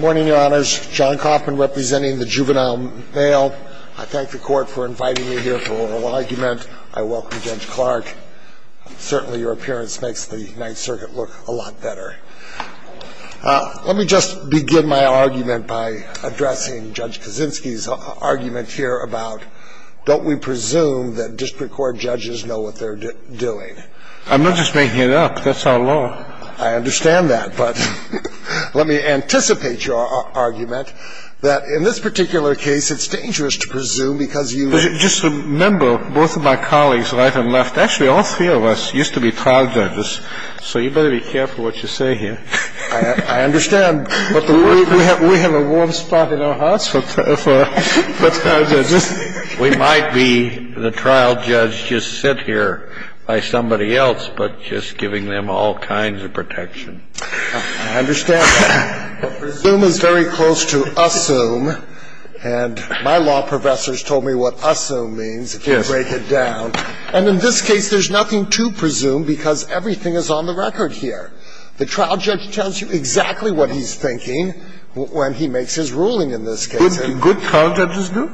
Morning, Your Honors. John Coffman representing the Juvenile Male. I thank the Court for inviting you here for oral argument. I welcome Judge Clark. Certainly your appearance makes the Ninth Circuit look a lot better. Let me just begin my argument by addressing Judge Kaczynski's argument here about don't we presume that District Court judges know what they're doing? I'm not just making it up. That's our law. I understand that. But let me anticipate your argument that in this particular case, it's dangerous to presume because you – Just remember, both of my colleagues, right and left – actually, all three of us used to be trial judges, so you better be careful what you say here. I understand. But we have a warm spot in our hearts for trial judges. We might be the trial judge just sit here by somebody else, but just giving them all kinds of protection. I understand that. But presume is very close to assume, and my law professors told me what assume means, if you break it down. And in this case, there's nothing to presume because everything is on the record here. The trial judge tells you exactly what he's thinking when he makes his ruling in this case. Good trial judges do?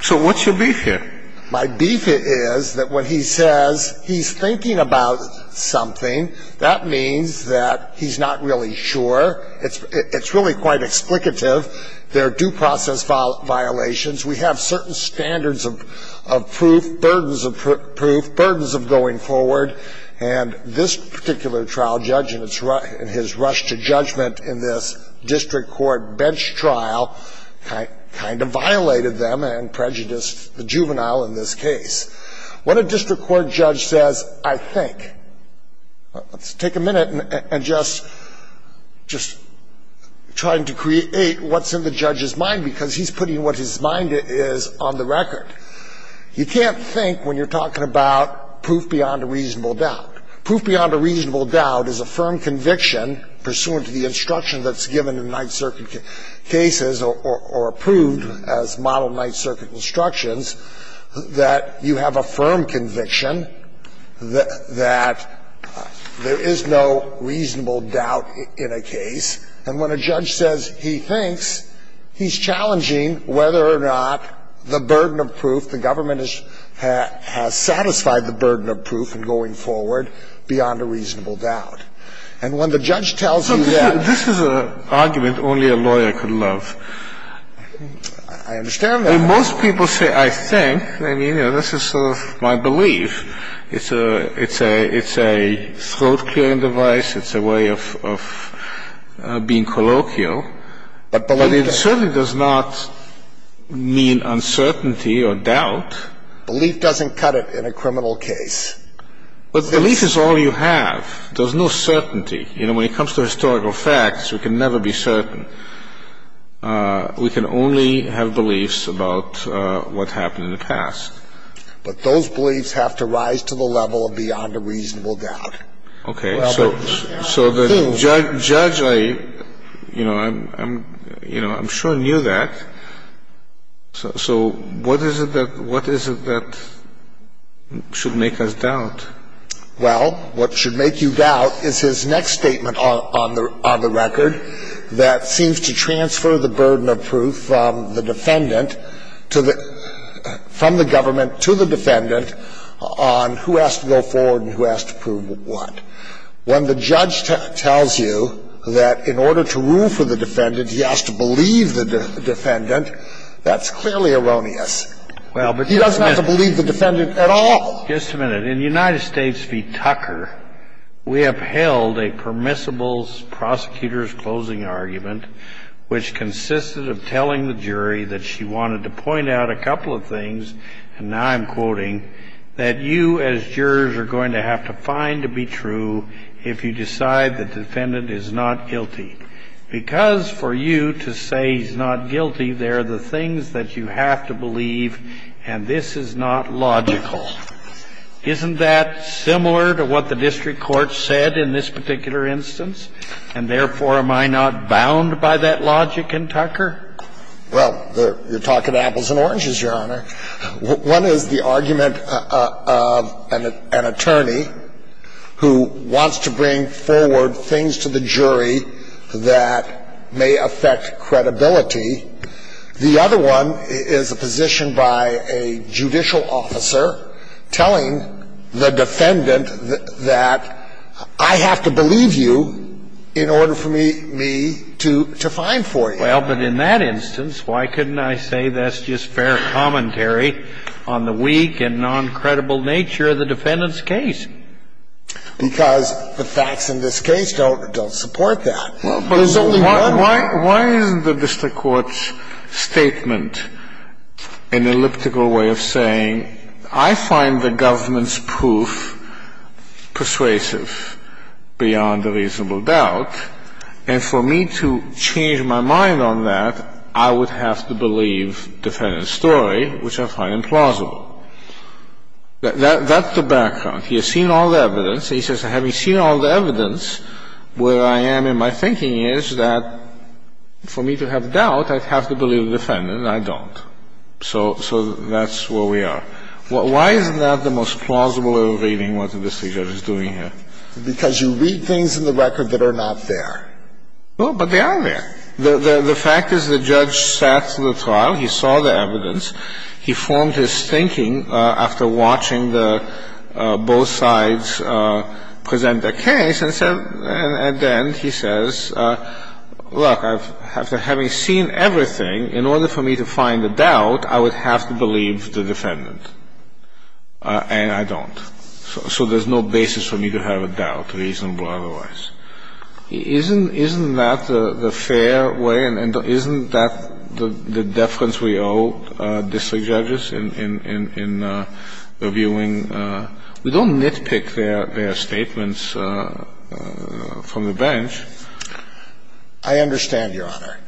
So what's your beef here? My beef is that when he says he's thinking about something, that means that he's not really sure. It's really quite explicative. There are due process violations. We have certain standards of proof, burdens of proof, burdens of going forward. And this particular trial judge in his rush to judgment in this district court bench trial kind of violated them and prejudiced the juvenile in this case. When a district court judge says, I think – let's take a minute and just try to create what's in the judge's mind because he's putting what his mind is on the record. You can't think when you're talking about proof beyond a reasonable doubt. Proof beyond a reasonable doubt is a firm conviction pursuant to the instruction that's given in Ninth Circuit cases or approved as model Ninth Circuit instructions that you have a firm conviction that there is no reasonable doubt in a case. And when a judge says he thinks, he's challenging whether or not the burden of proof, the government has satisfied the burden of proof in going forward beyond a reasonable doubt. And when the judge tells you that – This is an argument only a lawyer could love. I understand that. I mean, most people say, I think. I mean, this is sort of my belief. It's a throat-clearing device. It's a way of being colloquial. But it certainly does not mean uncertainty or doubt. Belief doesn't cut it in a criminal case. But belief is all you have. There's no certainty. I mean, we can't say that there is no certainty. There's no certainty. When it comes to historical facts, we can never be certain. We can only have beliefs about what happened in the past. But those beliefs have to rise to the level of beyond a reasonable doubt. Okay. So the judge, I, you know, I'm sure knew that. So what is it that should make us doubt? Well, what should make you doubt is his next statement on the record that seems to transfer the burden of proof from the defendant to the – from the government to the defendant on who has to go forward and who has to prove what. When the judge tells you that in order to rule for the defendant, he has to believe the defendant, that's clearly erroneous. Well, but just a minute. He doesn't have to believe the defendant at all. Just a minute. In United States v. Tucker, we upheld a permissible prosecutor's closing argument, which consisted of telling the jury that she wanted to point out a couple of things, and now I'm quoting, that you as jurors are going to have to find to be true if you decide the defendant is not guilty. Because for you to say he's not guilty, there are the things that you have to believe, and this is not logical. Isn't that similar to what the district court said in this particular instance? And therefore, am I not bound by that logic in Tucker? Well, you're talking apples and oranges, Your Honor. One is the argument of an attorney who wants to bring forward things to the jury that may affect credibility. The other one is a position by a judicial officer telling the defendant that I have to believe you in order for me to find for you. Well, but in that instance, why couldn't I say that's just fair commentary on the weak and noncredible nature of the defendant's case? Because the facts in this case don't support that. Well, but why isn't the district court's statement an elliptical way of saying, I find the government's proof persuasive beyond a reasonable doubt, and for me to change my mind on that, I would have to believe defendant's story, which I find implausible? That's the background. He has seen all the evidence, and he says, having seen all the evidence, where I am in my thinking is that for me to have doubt, I'd have to believe the defendant, and I don't. So that's where we are. Why isn't that the most plausible way of reading what the district judge is doing here? Because you read things in the record that are not there. No, but they are there. The fact is the judge sat through the trial. He saw the evidence. He formed his thinking after watching the both sides present their case and said, and then he says, look, after having seen everything, in order for me to find the doubt, I would have to believe the defendant, and I don't. So there's no basis for me to have a doubt, reasonable otherwise. Isn't that the fair way? And isn't that the deference we owe district judges in reviewing? We don't nitpick their statements from the bench. I understand, Your Honor.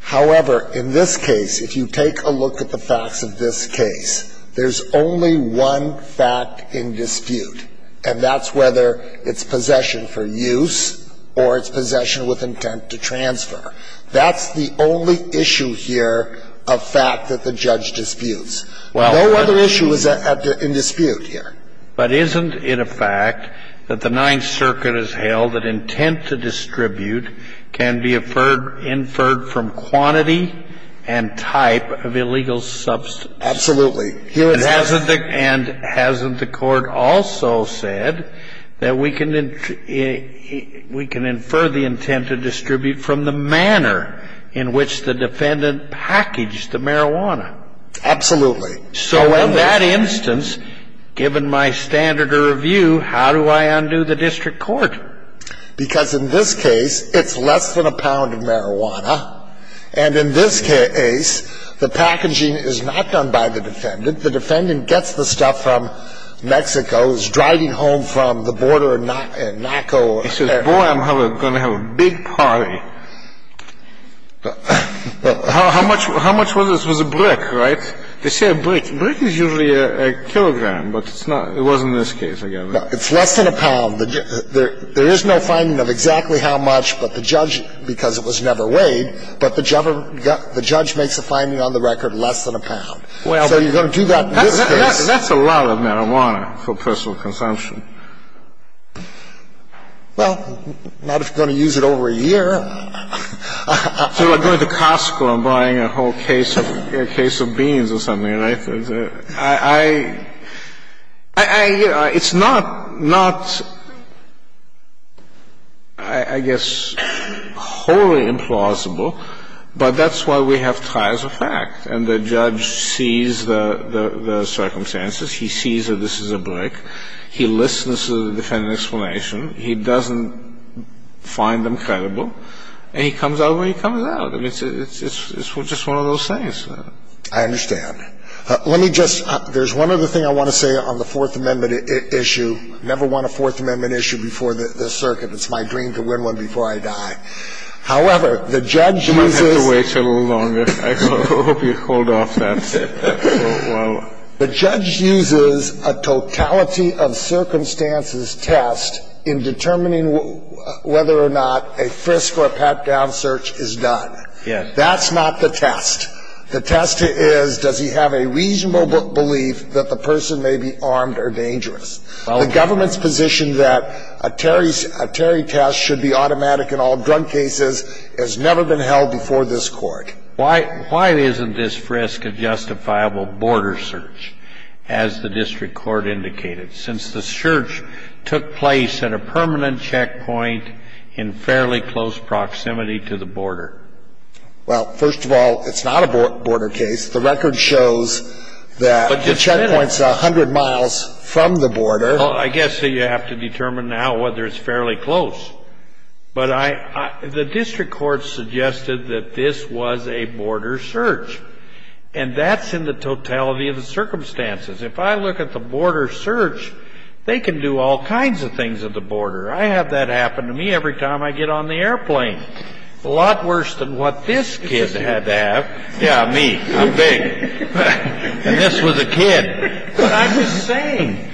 However, in this case, if you take a look at the facts of this case, there's only one fact in dispute, and that's whether it's possession for use or it's possession with intent to transfer. That's the only issue here of fact that the judge disputes. No other issue is in dispute here. But isn't it a fact that the Ninth Circuit has held that intent to distribute can be inferred from quantity and type of illegal substance? Absolutely. And hasn't the court also said that we can infer the intent to distribute from the manner in which the defendant packaged the marijuana? Absolutely. So in that instance, given my standard of review, how do I undo the district court? Because in this case, it's less than a pound of marijuana. And in this case, the packaging is not done by the defendant. The defendant gets the stuff from Mexico, is driving home from the border in Naco. He says, boy, I'm going to have a big party. How much was it? It was a brick, right? They say a brick. A brick is usually a kilogram, but it's not. It wasn't in this case, I guess. It's less than a pound. There is no finding of exactly how much, but the judge, because it was never weighed, but the judge makes a finding on the record less than a pound. So you're going to do that in this case. That's a lot of marijuana for personal consumption. Well, not if you're going to use it over a year. So like going to Costco and buying a whole case of beans or something, right? It's not, I guess, wholly implausible, but that's why we have ties of fact. And the judge sees the circumstances. He sees that this is a brick. He listens to the defendant's explanation. He doesn't find them credible. And he comes out where he comes out. I mean, it's just one of those things. I understand. Let me just, there's one other thing I want to say on the Fourth Amendment issue. I never won a Fourth Amendment issue before the circuit. It's my dream to win one before I die. However, the judge uses. You might have to wait a little longer. I hope you hold off that. The judge uses a totality of circumstances test in determining whether or not a frisk or a pat-down search is done. That's not the test. The test is, does he have a reasonable belief that the person may be armed or dangerous? The government's position that a Terry test should be automatic in all drug cases has never been held before this Court. Why isn't this frisk a justifiable border search, as the district court indicated, since the search took place at a permanent checkpoint in fairly close proximity to the border? Well, first of all, it's not a border case. The record shows that the checkpoint's 100 miles from the border. Well, I guess you have to determine now whether it's fairly close. But the district court suggested that this was a border search, and that's in the totality of the circumstances. If I look at the border search, they can do all kinds of things at the border. I have that happen to me every time I get on the airplane. A lot worse than what this kid had to have. Yeah, me. I'm big. And this was a kid. But I'm just saying,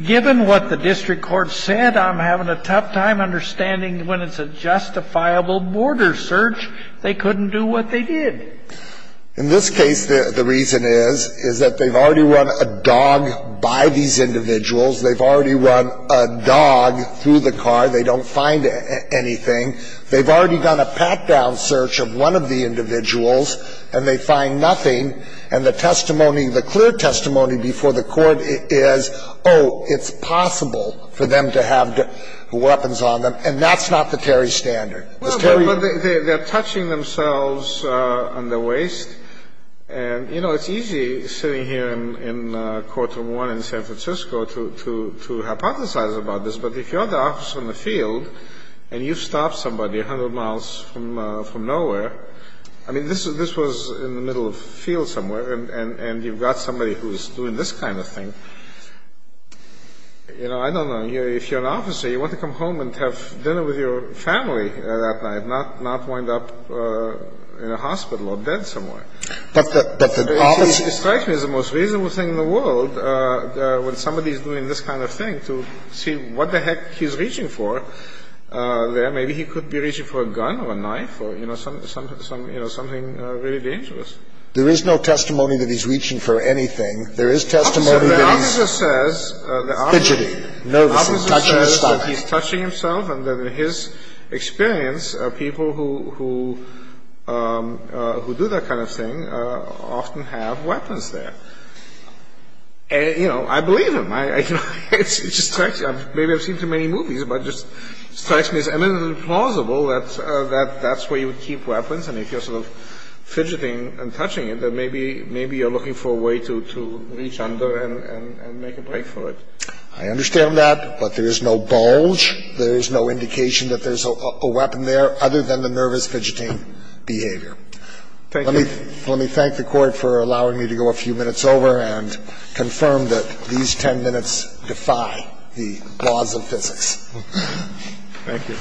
given what the district court said, I'm having a tough time understanding when it's a justifiable border search. They couldn't do what they did. In this case, the reason is, is that they've already run a dog by these individuals. They've already run a dog through the car. They don't find anything. They've already done a pat-down search of one of the individuals, and they find nothing. And the testimony, the clear testimony before the Court is, oh, it's possible for them to have weapons on them. And that's not the Terry standard. But they're touching themselves on the waist. And, you know, it's easy sitting here in courtroom one in San Francisco to hypothesize about this. But if you're the officer in the field, and you've stopped somebody 100 miles from nowhere, I mean, this was in the middle of a field somewhere, and you've got somebody who's doing this kind of thing, you know, I don't know. If you're an officer, you want to come home and have dinner with your family that night, not wind up in a hospital or dead somewhere. But the problem is... It strikes me as the most reasonable thing in the world when somebody is doing this kind of thing to see what the heck he's reaching for there. Maybe he could be reaching for a gun or a knife or, you know, something really dangerous. There is no testimony that he's reaching for anything. There is testimony that he's fidgeting, nervous, touching his stomach. The officer says that he's touching himself, and that in his experience, people who do that kind of thing often have weapons there. You know, I believe him. I don't know. It just strikes me. Maybe I've seen too many movies, but it just strikes me as eminently plausible that that's where you would keep weapons, and if you're sort of fidgeting and touching it, then maybe you're looking for a way to reach under and make a break for it. I understand that, but there is no bulge. There is no indication that there's a weapon there other than the nervous fidgeting behavior. Thank you. Let me thank the Court for allowing me to go a few minutes over and confirm that these 10 minutes defy the laws of physics. Thank you.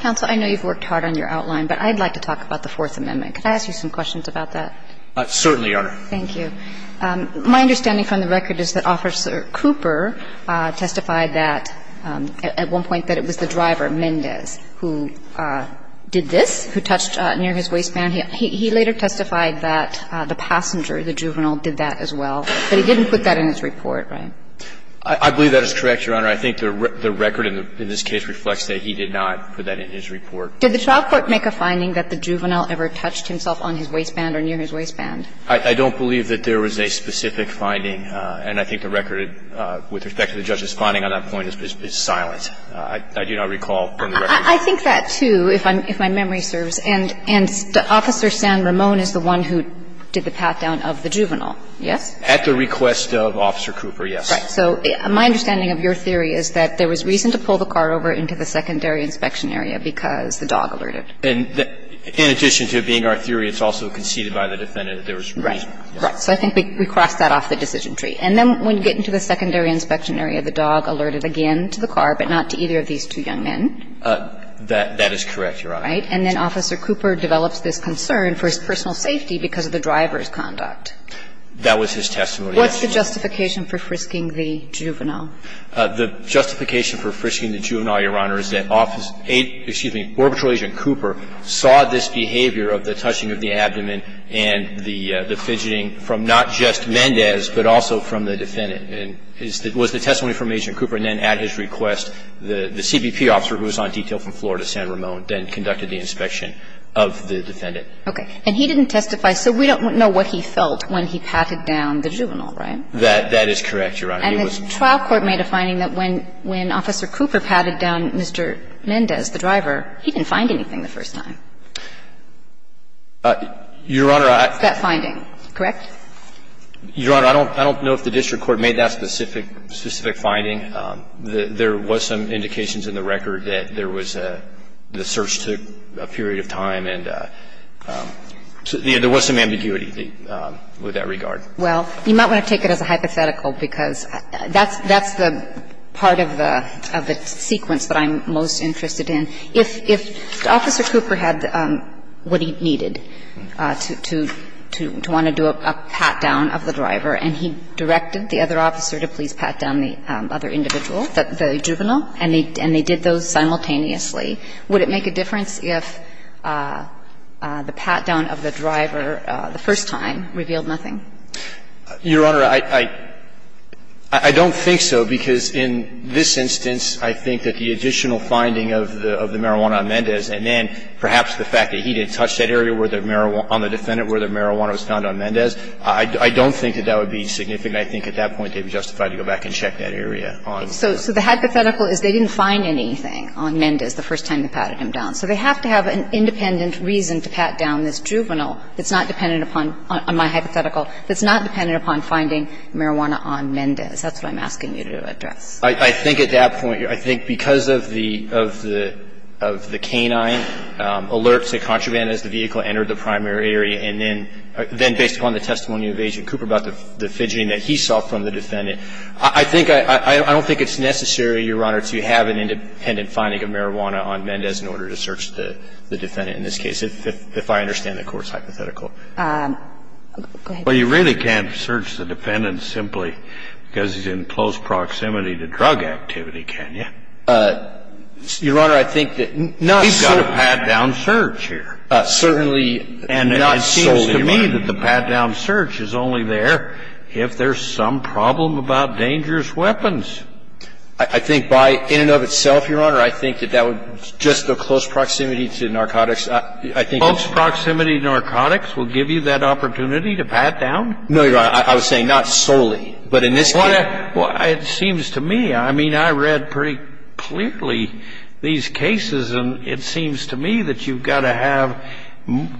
Counsel, I know you've worked hard on your outline, but I'd like to talk about the Fourth Amendment. Could I ask you some questions about that? Certainly, Your Honor. Thank you. My understanding from the record is that Officer Cooper testified that at one point that it was the driver, Mendez, who did this, who touched near his waistband. He later testified that the passenger, the juvenile, did that as well. But he didn't put that in his report, right? I believe that is correct, Your Honor. I think the record in this case reflects that he did not put that in his report. Did the trial court make a finding that the juvenile ever touched himself on his waistband or near his waistband? I don't believe that there was a specific finding. And I think the record with respect to the judge's finding on that point is silent. I do not recall from the record. I think that, too, if my memory serves. And Officer San Ramon is the one who did the path down of the juvenile, yes? At the request of Officer Cooper, yes. Right. So my understanding of your theory is that there was reason to pull the car over into the secondary inspection area because the dog alerted. And in addition to it being our theory, it's also conceded by the defendant that there was reason. Right. So I think we crossed that off the decision tree. And then when you get into the secondary inspection area, the dog alerted again to the car, but not to either of these two young men. That is correct, Your Honor. Right. And then Officer Cooper develops this concern for his personal safety because of the driver's conduct. That was his testimony. What's the justification for frisking the juvenile? The justification for frisking the juvenile, Your Honor, is that Office 8, excuse me, Orbitral Agent Cooper saw this behavior of the touching of the abdomen and the And that was the testimony from the defendant. And it was the testimony from Agent Cooper. And then at his request, the CBP officer who was on detail from Florida, San Ramon, then conducted the inspection of the defendant. Okay. And he didn't testify. So we don't know what he felt when he patted down the juvenile, right? That is correct, Your Honor. And the trial court made a finding that when Officer Cooper patted down Mr. Mendez, the driver, he didn't find anything the first time. Your Honor, I don't know if the district court made that specific finding. There was some indications in the record that there was a, the search took a period of time and there was some ambiguity with that regard. Well, you might want to take it as a hypothetical because that's the part of the sequence that I'm most interested in. If Officer Cooper had what he needed to want to do a pat-down of the driver and he directed the other officer to please pat down the other individual, the juvenile, and they did those simultaneously, would it make a difference if the pat-down of the driver the first time revealed nothing? Your Honor, I don't think so, because in this instance, I think that the additional finding of the marijuana on Mendez and then perhaps the fact that he didn't touch that area on the defendant where the marijuana was found on Mendez, I don't think that that would be significant. I think at that point they'd be justified to go back and check that area on the defendant. So the hypothetical is they didn't find anything on Mendez the first time they patted him down. So they have to have an independent reason to pat down this juvenile that's not dependent upon my hypothetical, that's not dependent upon finding marijuana on Mendez. That's what I'm asking you to address. I think at that point, I think because of the canine alerts, the contraband as the vehicle entered the primary area, and then based upon the testimony of Agent Cooper about the fidgeting that he saw from the defendant, I think I don't think it's necessary, Your Honor, to have an independent finding of marijuana on Mendez in order to search the defendant in this case, if I understand the Court's hypothetical. Go ahead. Well, you really can't search the defendant simply because he's in close proximity to drug activity, can you? Your Honor, I think that not so. He's got a pat-down search here. Certainly not solely, Your Honor. And it seems to me that the pat-down search is only there if there's some problem about dangerous weapons. I think by in and of itself, Your Honor, I think that that would just the close proximity to narcotics. Close proximity to narcotics will give you that opportunity to pat down? No, Your Honor. I was saying not solely, but in this case. Well, it seems to me. I mean, I read pretty clearly these cases, and it seems to me that you've got to have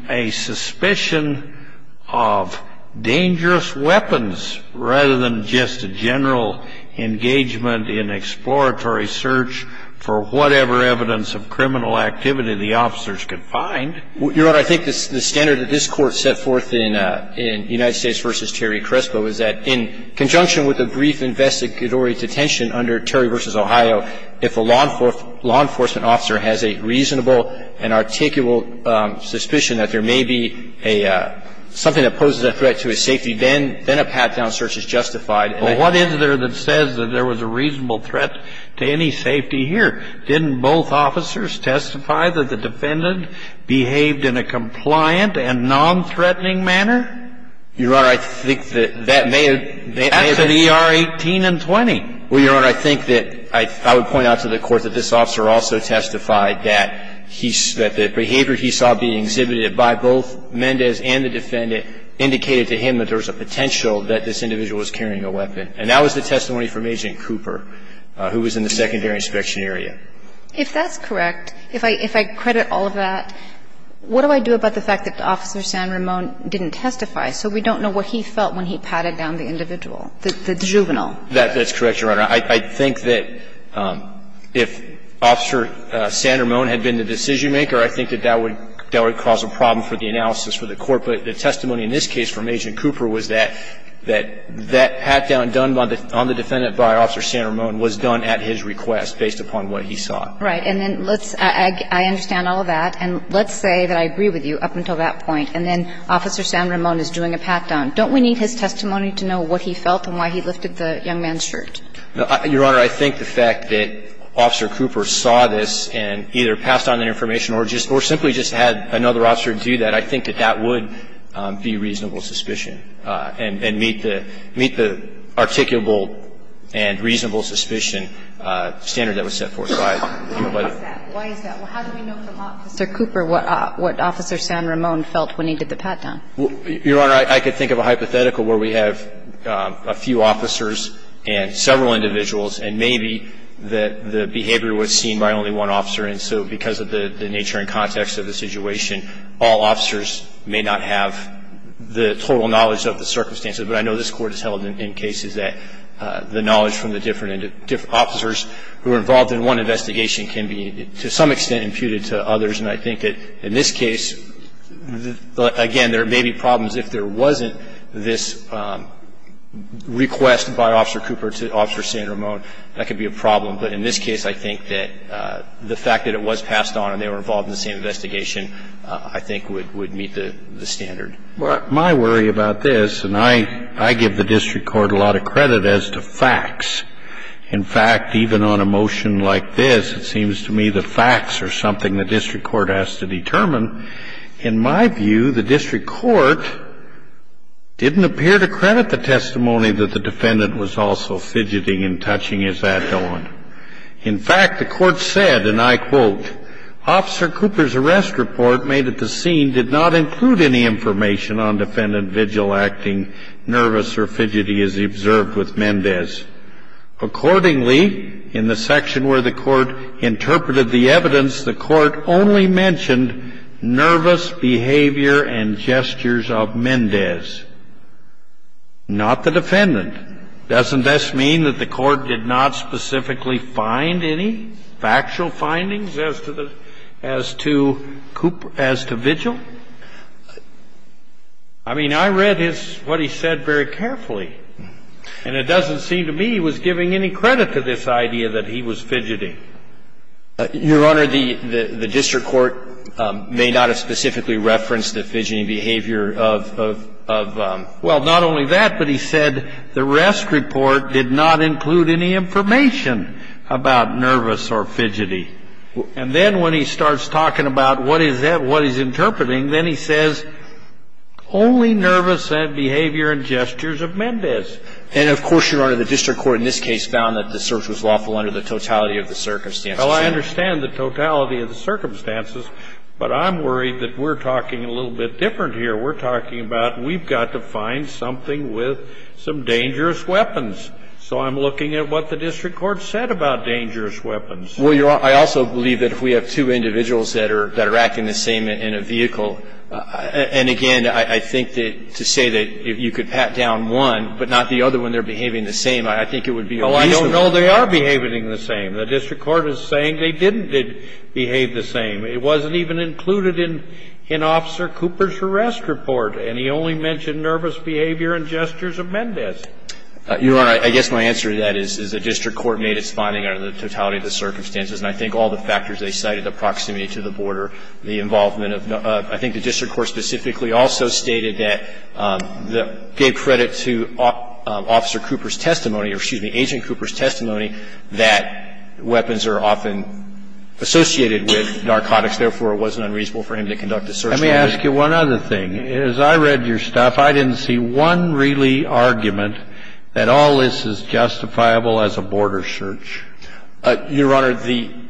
a suspicion of dangerous weapons rather than just a general engagement in exploratory search for whatever evidence of criminal activity the officers could find. Your Honor, I think the standard that this Court set forth in United States v. Terry Crespo is that in conjunction with a brief investigatory detention under Terry v. Crespo, that there may be a threat to a safety, then a pat-down search is justified. But what is there that says that there was a reasonable threat to any safety here? Didn't both officers testify that the defendant behaved in a compliant and nonthreatening manner? Your Honor, I think that that may have been. That's in ER 18 and 20. Well, Your Honor, I think that I would point out to the Court that this officer also testified that the behavior he saw being exhibited by both Mendez and the defendant indicated to him that there was a potential that this individual was carrying a weapon, and that was the testimony from Agent Cooper, who was in the secondary inspection area. If that's correct, if I credit all of that, what do I do about the fact that Officer San Ramon didn't testify, so we don't know what he felt when he patted down the individual, the juvenile? That's correct, Your Honor. I think that if Officer San Ramon had been the decision-maker, I think that that would cause a problem for the analysis for the Court. But the testimony in this case from Agent Cooper was that that pat-down done on the defendant by Officer San Ramon was done at his request based upon what he saw. Right. And then let's – I understand all of that. And let's say that I agree with you up until that point, and then Officer San Ramon is doing a pat-down. Don't we need his testimony to know what he felt and why he lifted the young man's hand? Your Honor, I think the fact that Officer Cooper saw this and either passed on that information or just – or simply just had another officer do that, I think that that would be reasonable suspicion and meet the – meet the articulable and reasonable suspicion standard that was set forth by the – Why is that? Why is that? Well, how do we know from Officer Cooper what Officer San Ramon felt when he did the pat-down? Your Honor, I could think of a hypothetical where we have a few officers and several individuals, and maybe that the behavior was seen by only one officer, and so because of the nature and context of the situation, all officers may not have the total knowledge of the circumstances. But I know this Court has held in cases that the knowledge from the different officers who were involved in one investigation can be, to some extent, imputed to others. And I think that in this case, again, there may be problems if there wasn't this request by Officer Cooper to Officer San Ramon. That could be a problem. But in this case, I think that the fact that it was passed on and they were involved in the same investigation, I think, would meet the standard. Well, my worry about this, and I give the district court a lot of credit as to facts. In fact, even on a motion like this, it seems to me the facts are something the district court has to determine. In my view, the district court didn't appear to credit the testimony that the defendant was also fidgeting and touching his hat on. In fact, the court said, and I quote, Officer Cooper's arrest report made at the scene did not include any information on defendant vigil acting nervous or fidgety as observed with Mendez. Accordingly, in the section where the court interpreted the evidence, the court only mentioned nervous behavior and gestures of Mendez, not the defendant. Doesn't this mean that the court did not specifically find any factual findings as to vigil? I mean, I read what he said very carefully, and it doesn't seem to me he was giving any credit to this idea that he was fidgeting. Your Honor, the district court may not have specifically referenced the fidgeting behavior of, well, not only that, but he said the arrest report did not include any information about nervous or fidgety. And then when he starts talking about what is that, what he's interpreting, then he says only nervous behavior and gestures of Mendez. And, of course, Your Honor, the district court in this case found that the search was lawful under the totality of the circumstances. Well, I understand the totality of the circumstances, but I'm worried that we're talking a little bit different here. We're talking about we've got to find something with some dangerous weapons. So I'm looking at what the district court said about dangerous weapons. Well, Your Honor, I also believe that if we have two individuals that are acting the same in a vehicle, and again, I think that to say that you could pat down one but not the other when they're behaving the same, I think it would be unreasonable. Well, I don't know they are behaving the same. The district court is saying they didn't behave the same. It wasn't even included in Officer Cooper's arrest report, and he only mentioned nervous behavior and gestures of Mendez. Your Honor, I guess my answer to that is the district court made its finding under the totality of the circumstances, and I think all the factors they cited, the proximity to the border, the involvement of no other, I think the district court specifically also stated that, gave credit to Officer Cooper's testimony or, excuse me, Agent Cooper's testimony that weapons are often associated with narcotics. Therefore, it wasn't unreasonable for him to conduct a search warrant. Let me ask you one other thing. As I read your stuff, I didn't see one really argument that all this is justifiable as a border search. Your Honor, the ‑‑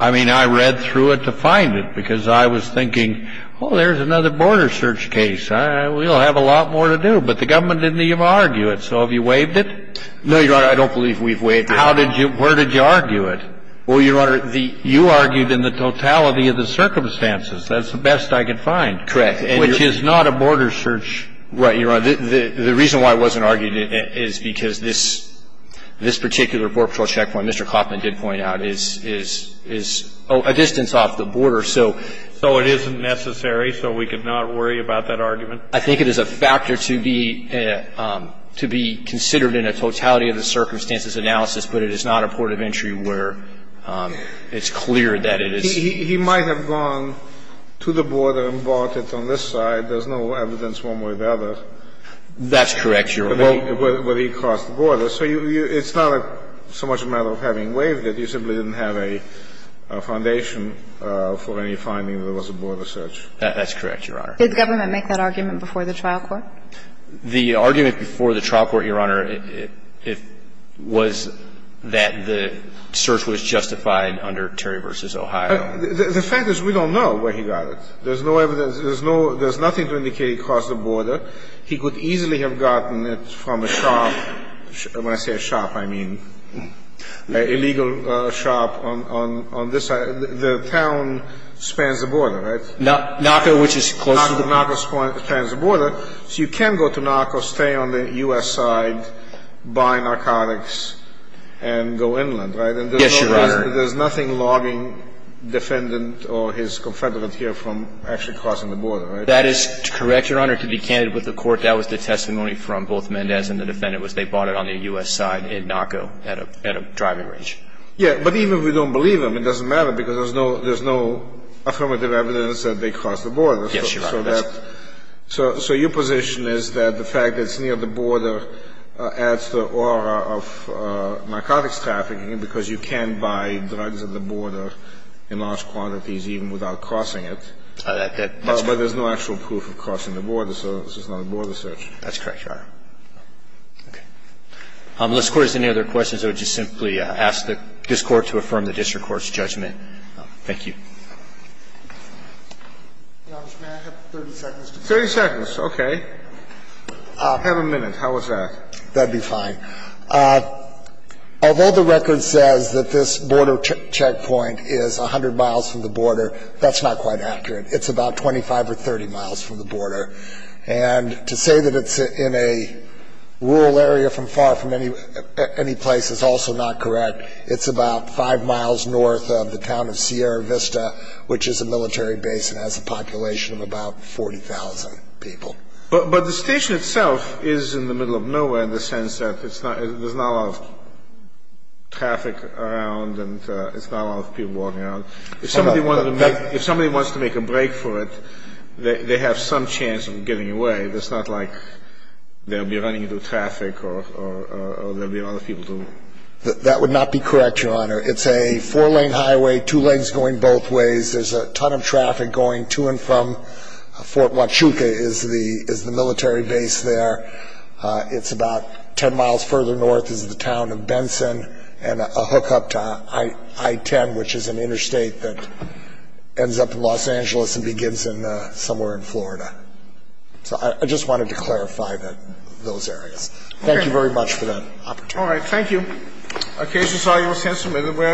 I mean, I read through it to find it because I was thinking, oh, there's another border search case. We'll have a lot more to do. But the government didn't even argue it. So have you waived it? No, Your Honor. I don't believe we've waived it. How did you ‑‑ where did you argue it? Well, Your Honor, the ‑‑ You argued in the totality of the circumstances. That's the best I could find. Correct. Which is not a border search. Right, Your Honor. The reason why it wasn't argued is because this particular Border Patrol checkpoint, Mr. Kaufman did point out, is a distance off the border. So it isn't necessary, so we could not worry about that argument? I think it is a factor to be considered in a totality of the circumstances analysis, but it is not a port of entry where it's clear that it is ‑‑ He might have gone to the border and bought it on this side. There's no evidence one way or the other. That's correct, Your Honor. Where he crossed the border. So it's not so much a matter of having waived it. You simply didn't have a foundation for any finding that it was a border search. That's correct, Your Honor. Did the government make that argument before the trial court? The argument before the trial court, Your Honor, was that the search was justified under Terry v. Ohio. The fact is we don't know where he got it. There's no evidence. There's nothing to indicate he crossed the border. He could easily have gotten it from a shop. When I say a shop, I mean an illegal shop on this side. The town spans the border, right? NACO, which is close to the border. NACO spans the border. So you can go to NACO, stay on the U.S. side, buy narcotics, and go inland, right? Yes, Your Honor. There's nothing logging defendant or his confederate here from actually crossing the border, right? That is correct, Your Honor. To be candid with the court, that was the testimony from both Mendez and the defendant was they bought it on the U.S. side in NACO at a driving range. Yeah. But even if we don't believe them, it doesn't matter because there's no ‑‑ There's no evidence that they crossed the border. Yes, Your Honor. So that ‑‑ so your position is that the fact that it's near the border adds the aura of narcotics trafficking because you can buy drugs at the border in large quantities even without crossing it. That's correct. But there's no actual proof of crossing the border, so this is not a border search. That's correct, Your Honor. Okay. Unless the Court has any other questions, I would just simply ask this Court to affirm the district court's judgment. Thank you. Your Honor, may I have 30 seconds to finish? 30 seconds. Okay. I have a minute. How was that? That would be fine. Although the record says that this border checkpoint is 100 miles from the border, that's not quite accurate. It's about 25 or 30 miles from the border. And to say that it's in a rural area from far from any place is also not correct. It's about five miles north of the town of Sierra Vista, which is a military base and has a population of about 40,000 people. But the station itself is in the middle of nowhere in the sense that there's not a lot of traffic around and it's not a lot of people walking around. If somebody wants to make a break for it, they have some chance of getting away. It's not like they'll be running into traffic or there'll be a lot of people to ‑‑ That would not be correct, Your Honor. It's a four-lane highway, two lanes going both ways. There's a ton of traffic going to and from Fort Huachuca is the military base there. It's about 10 miles further north is the town of Benson and a hookup to I‑10, which is an interstate that ends up in Los Angeles and begins somewhere in Florida. So I just wanted to clarify those areas. Thank you very much for that opportunity. All right. Thank you. Occasions are your assessment. We are adjourned.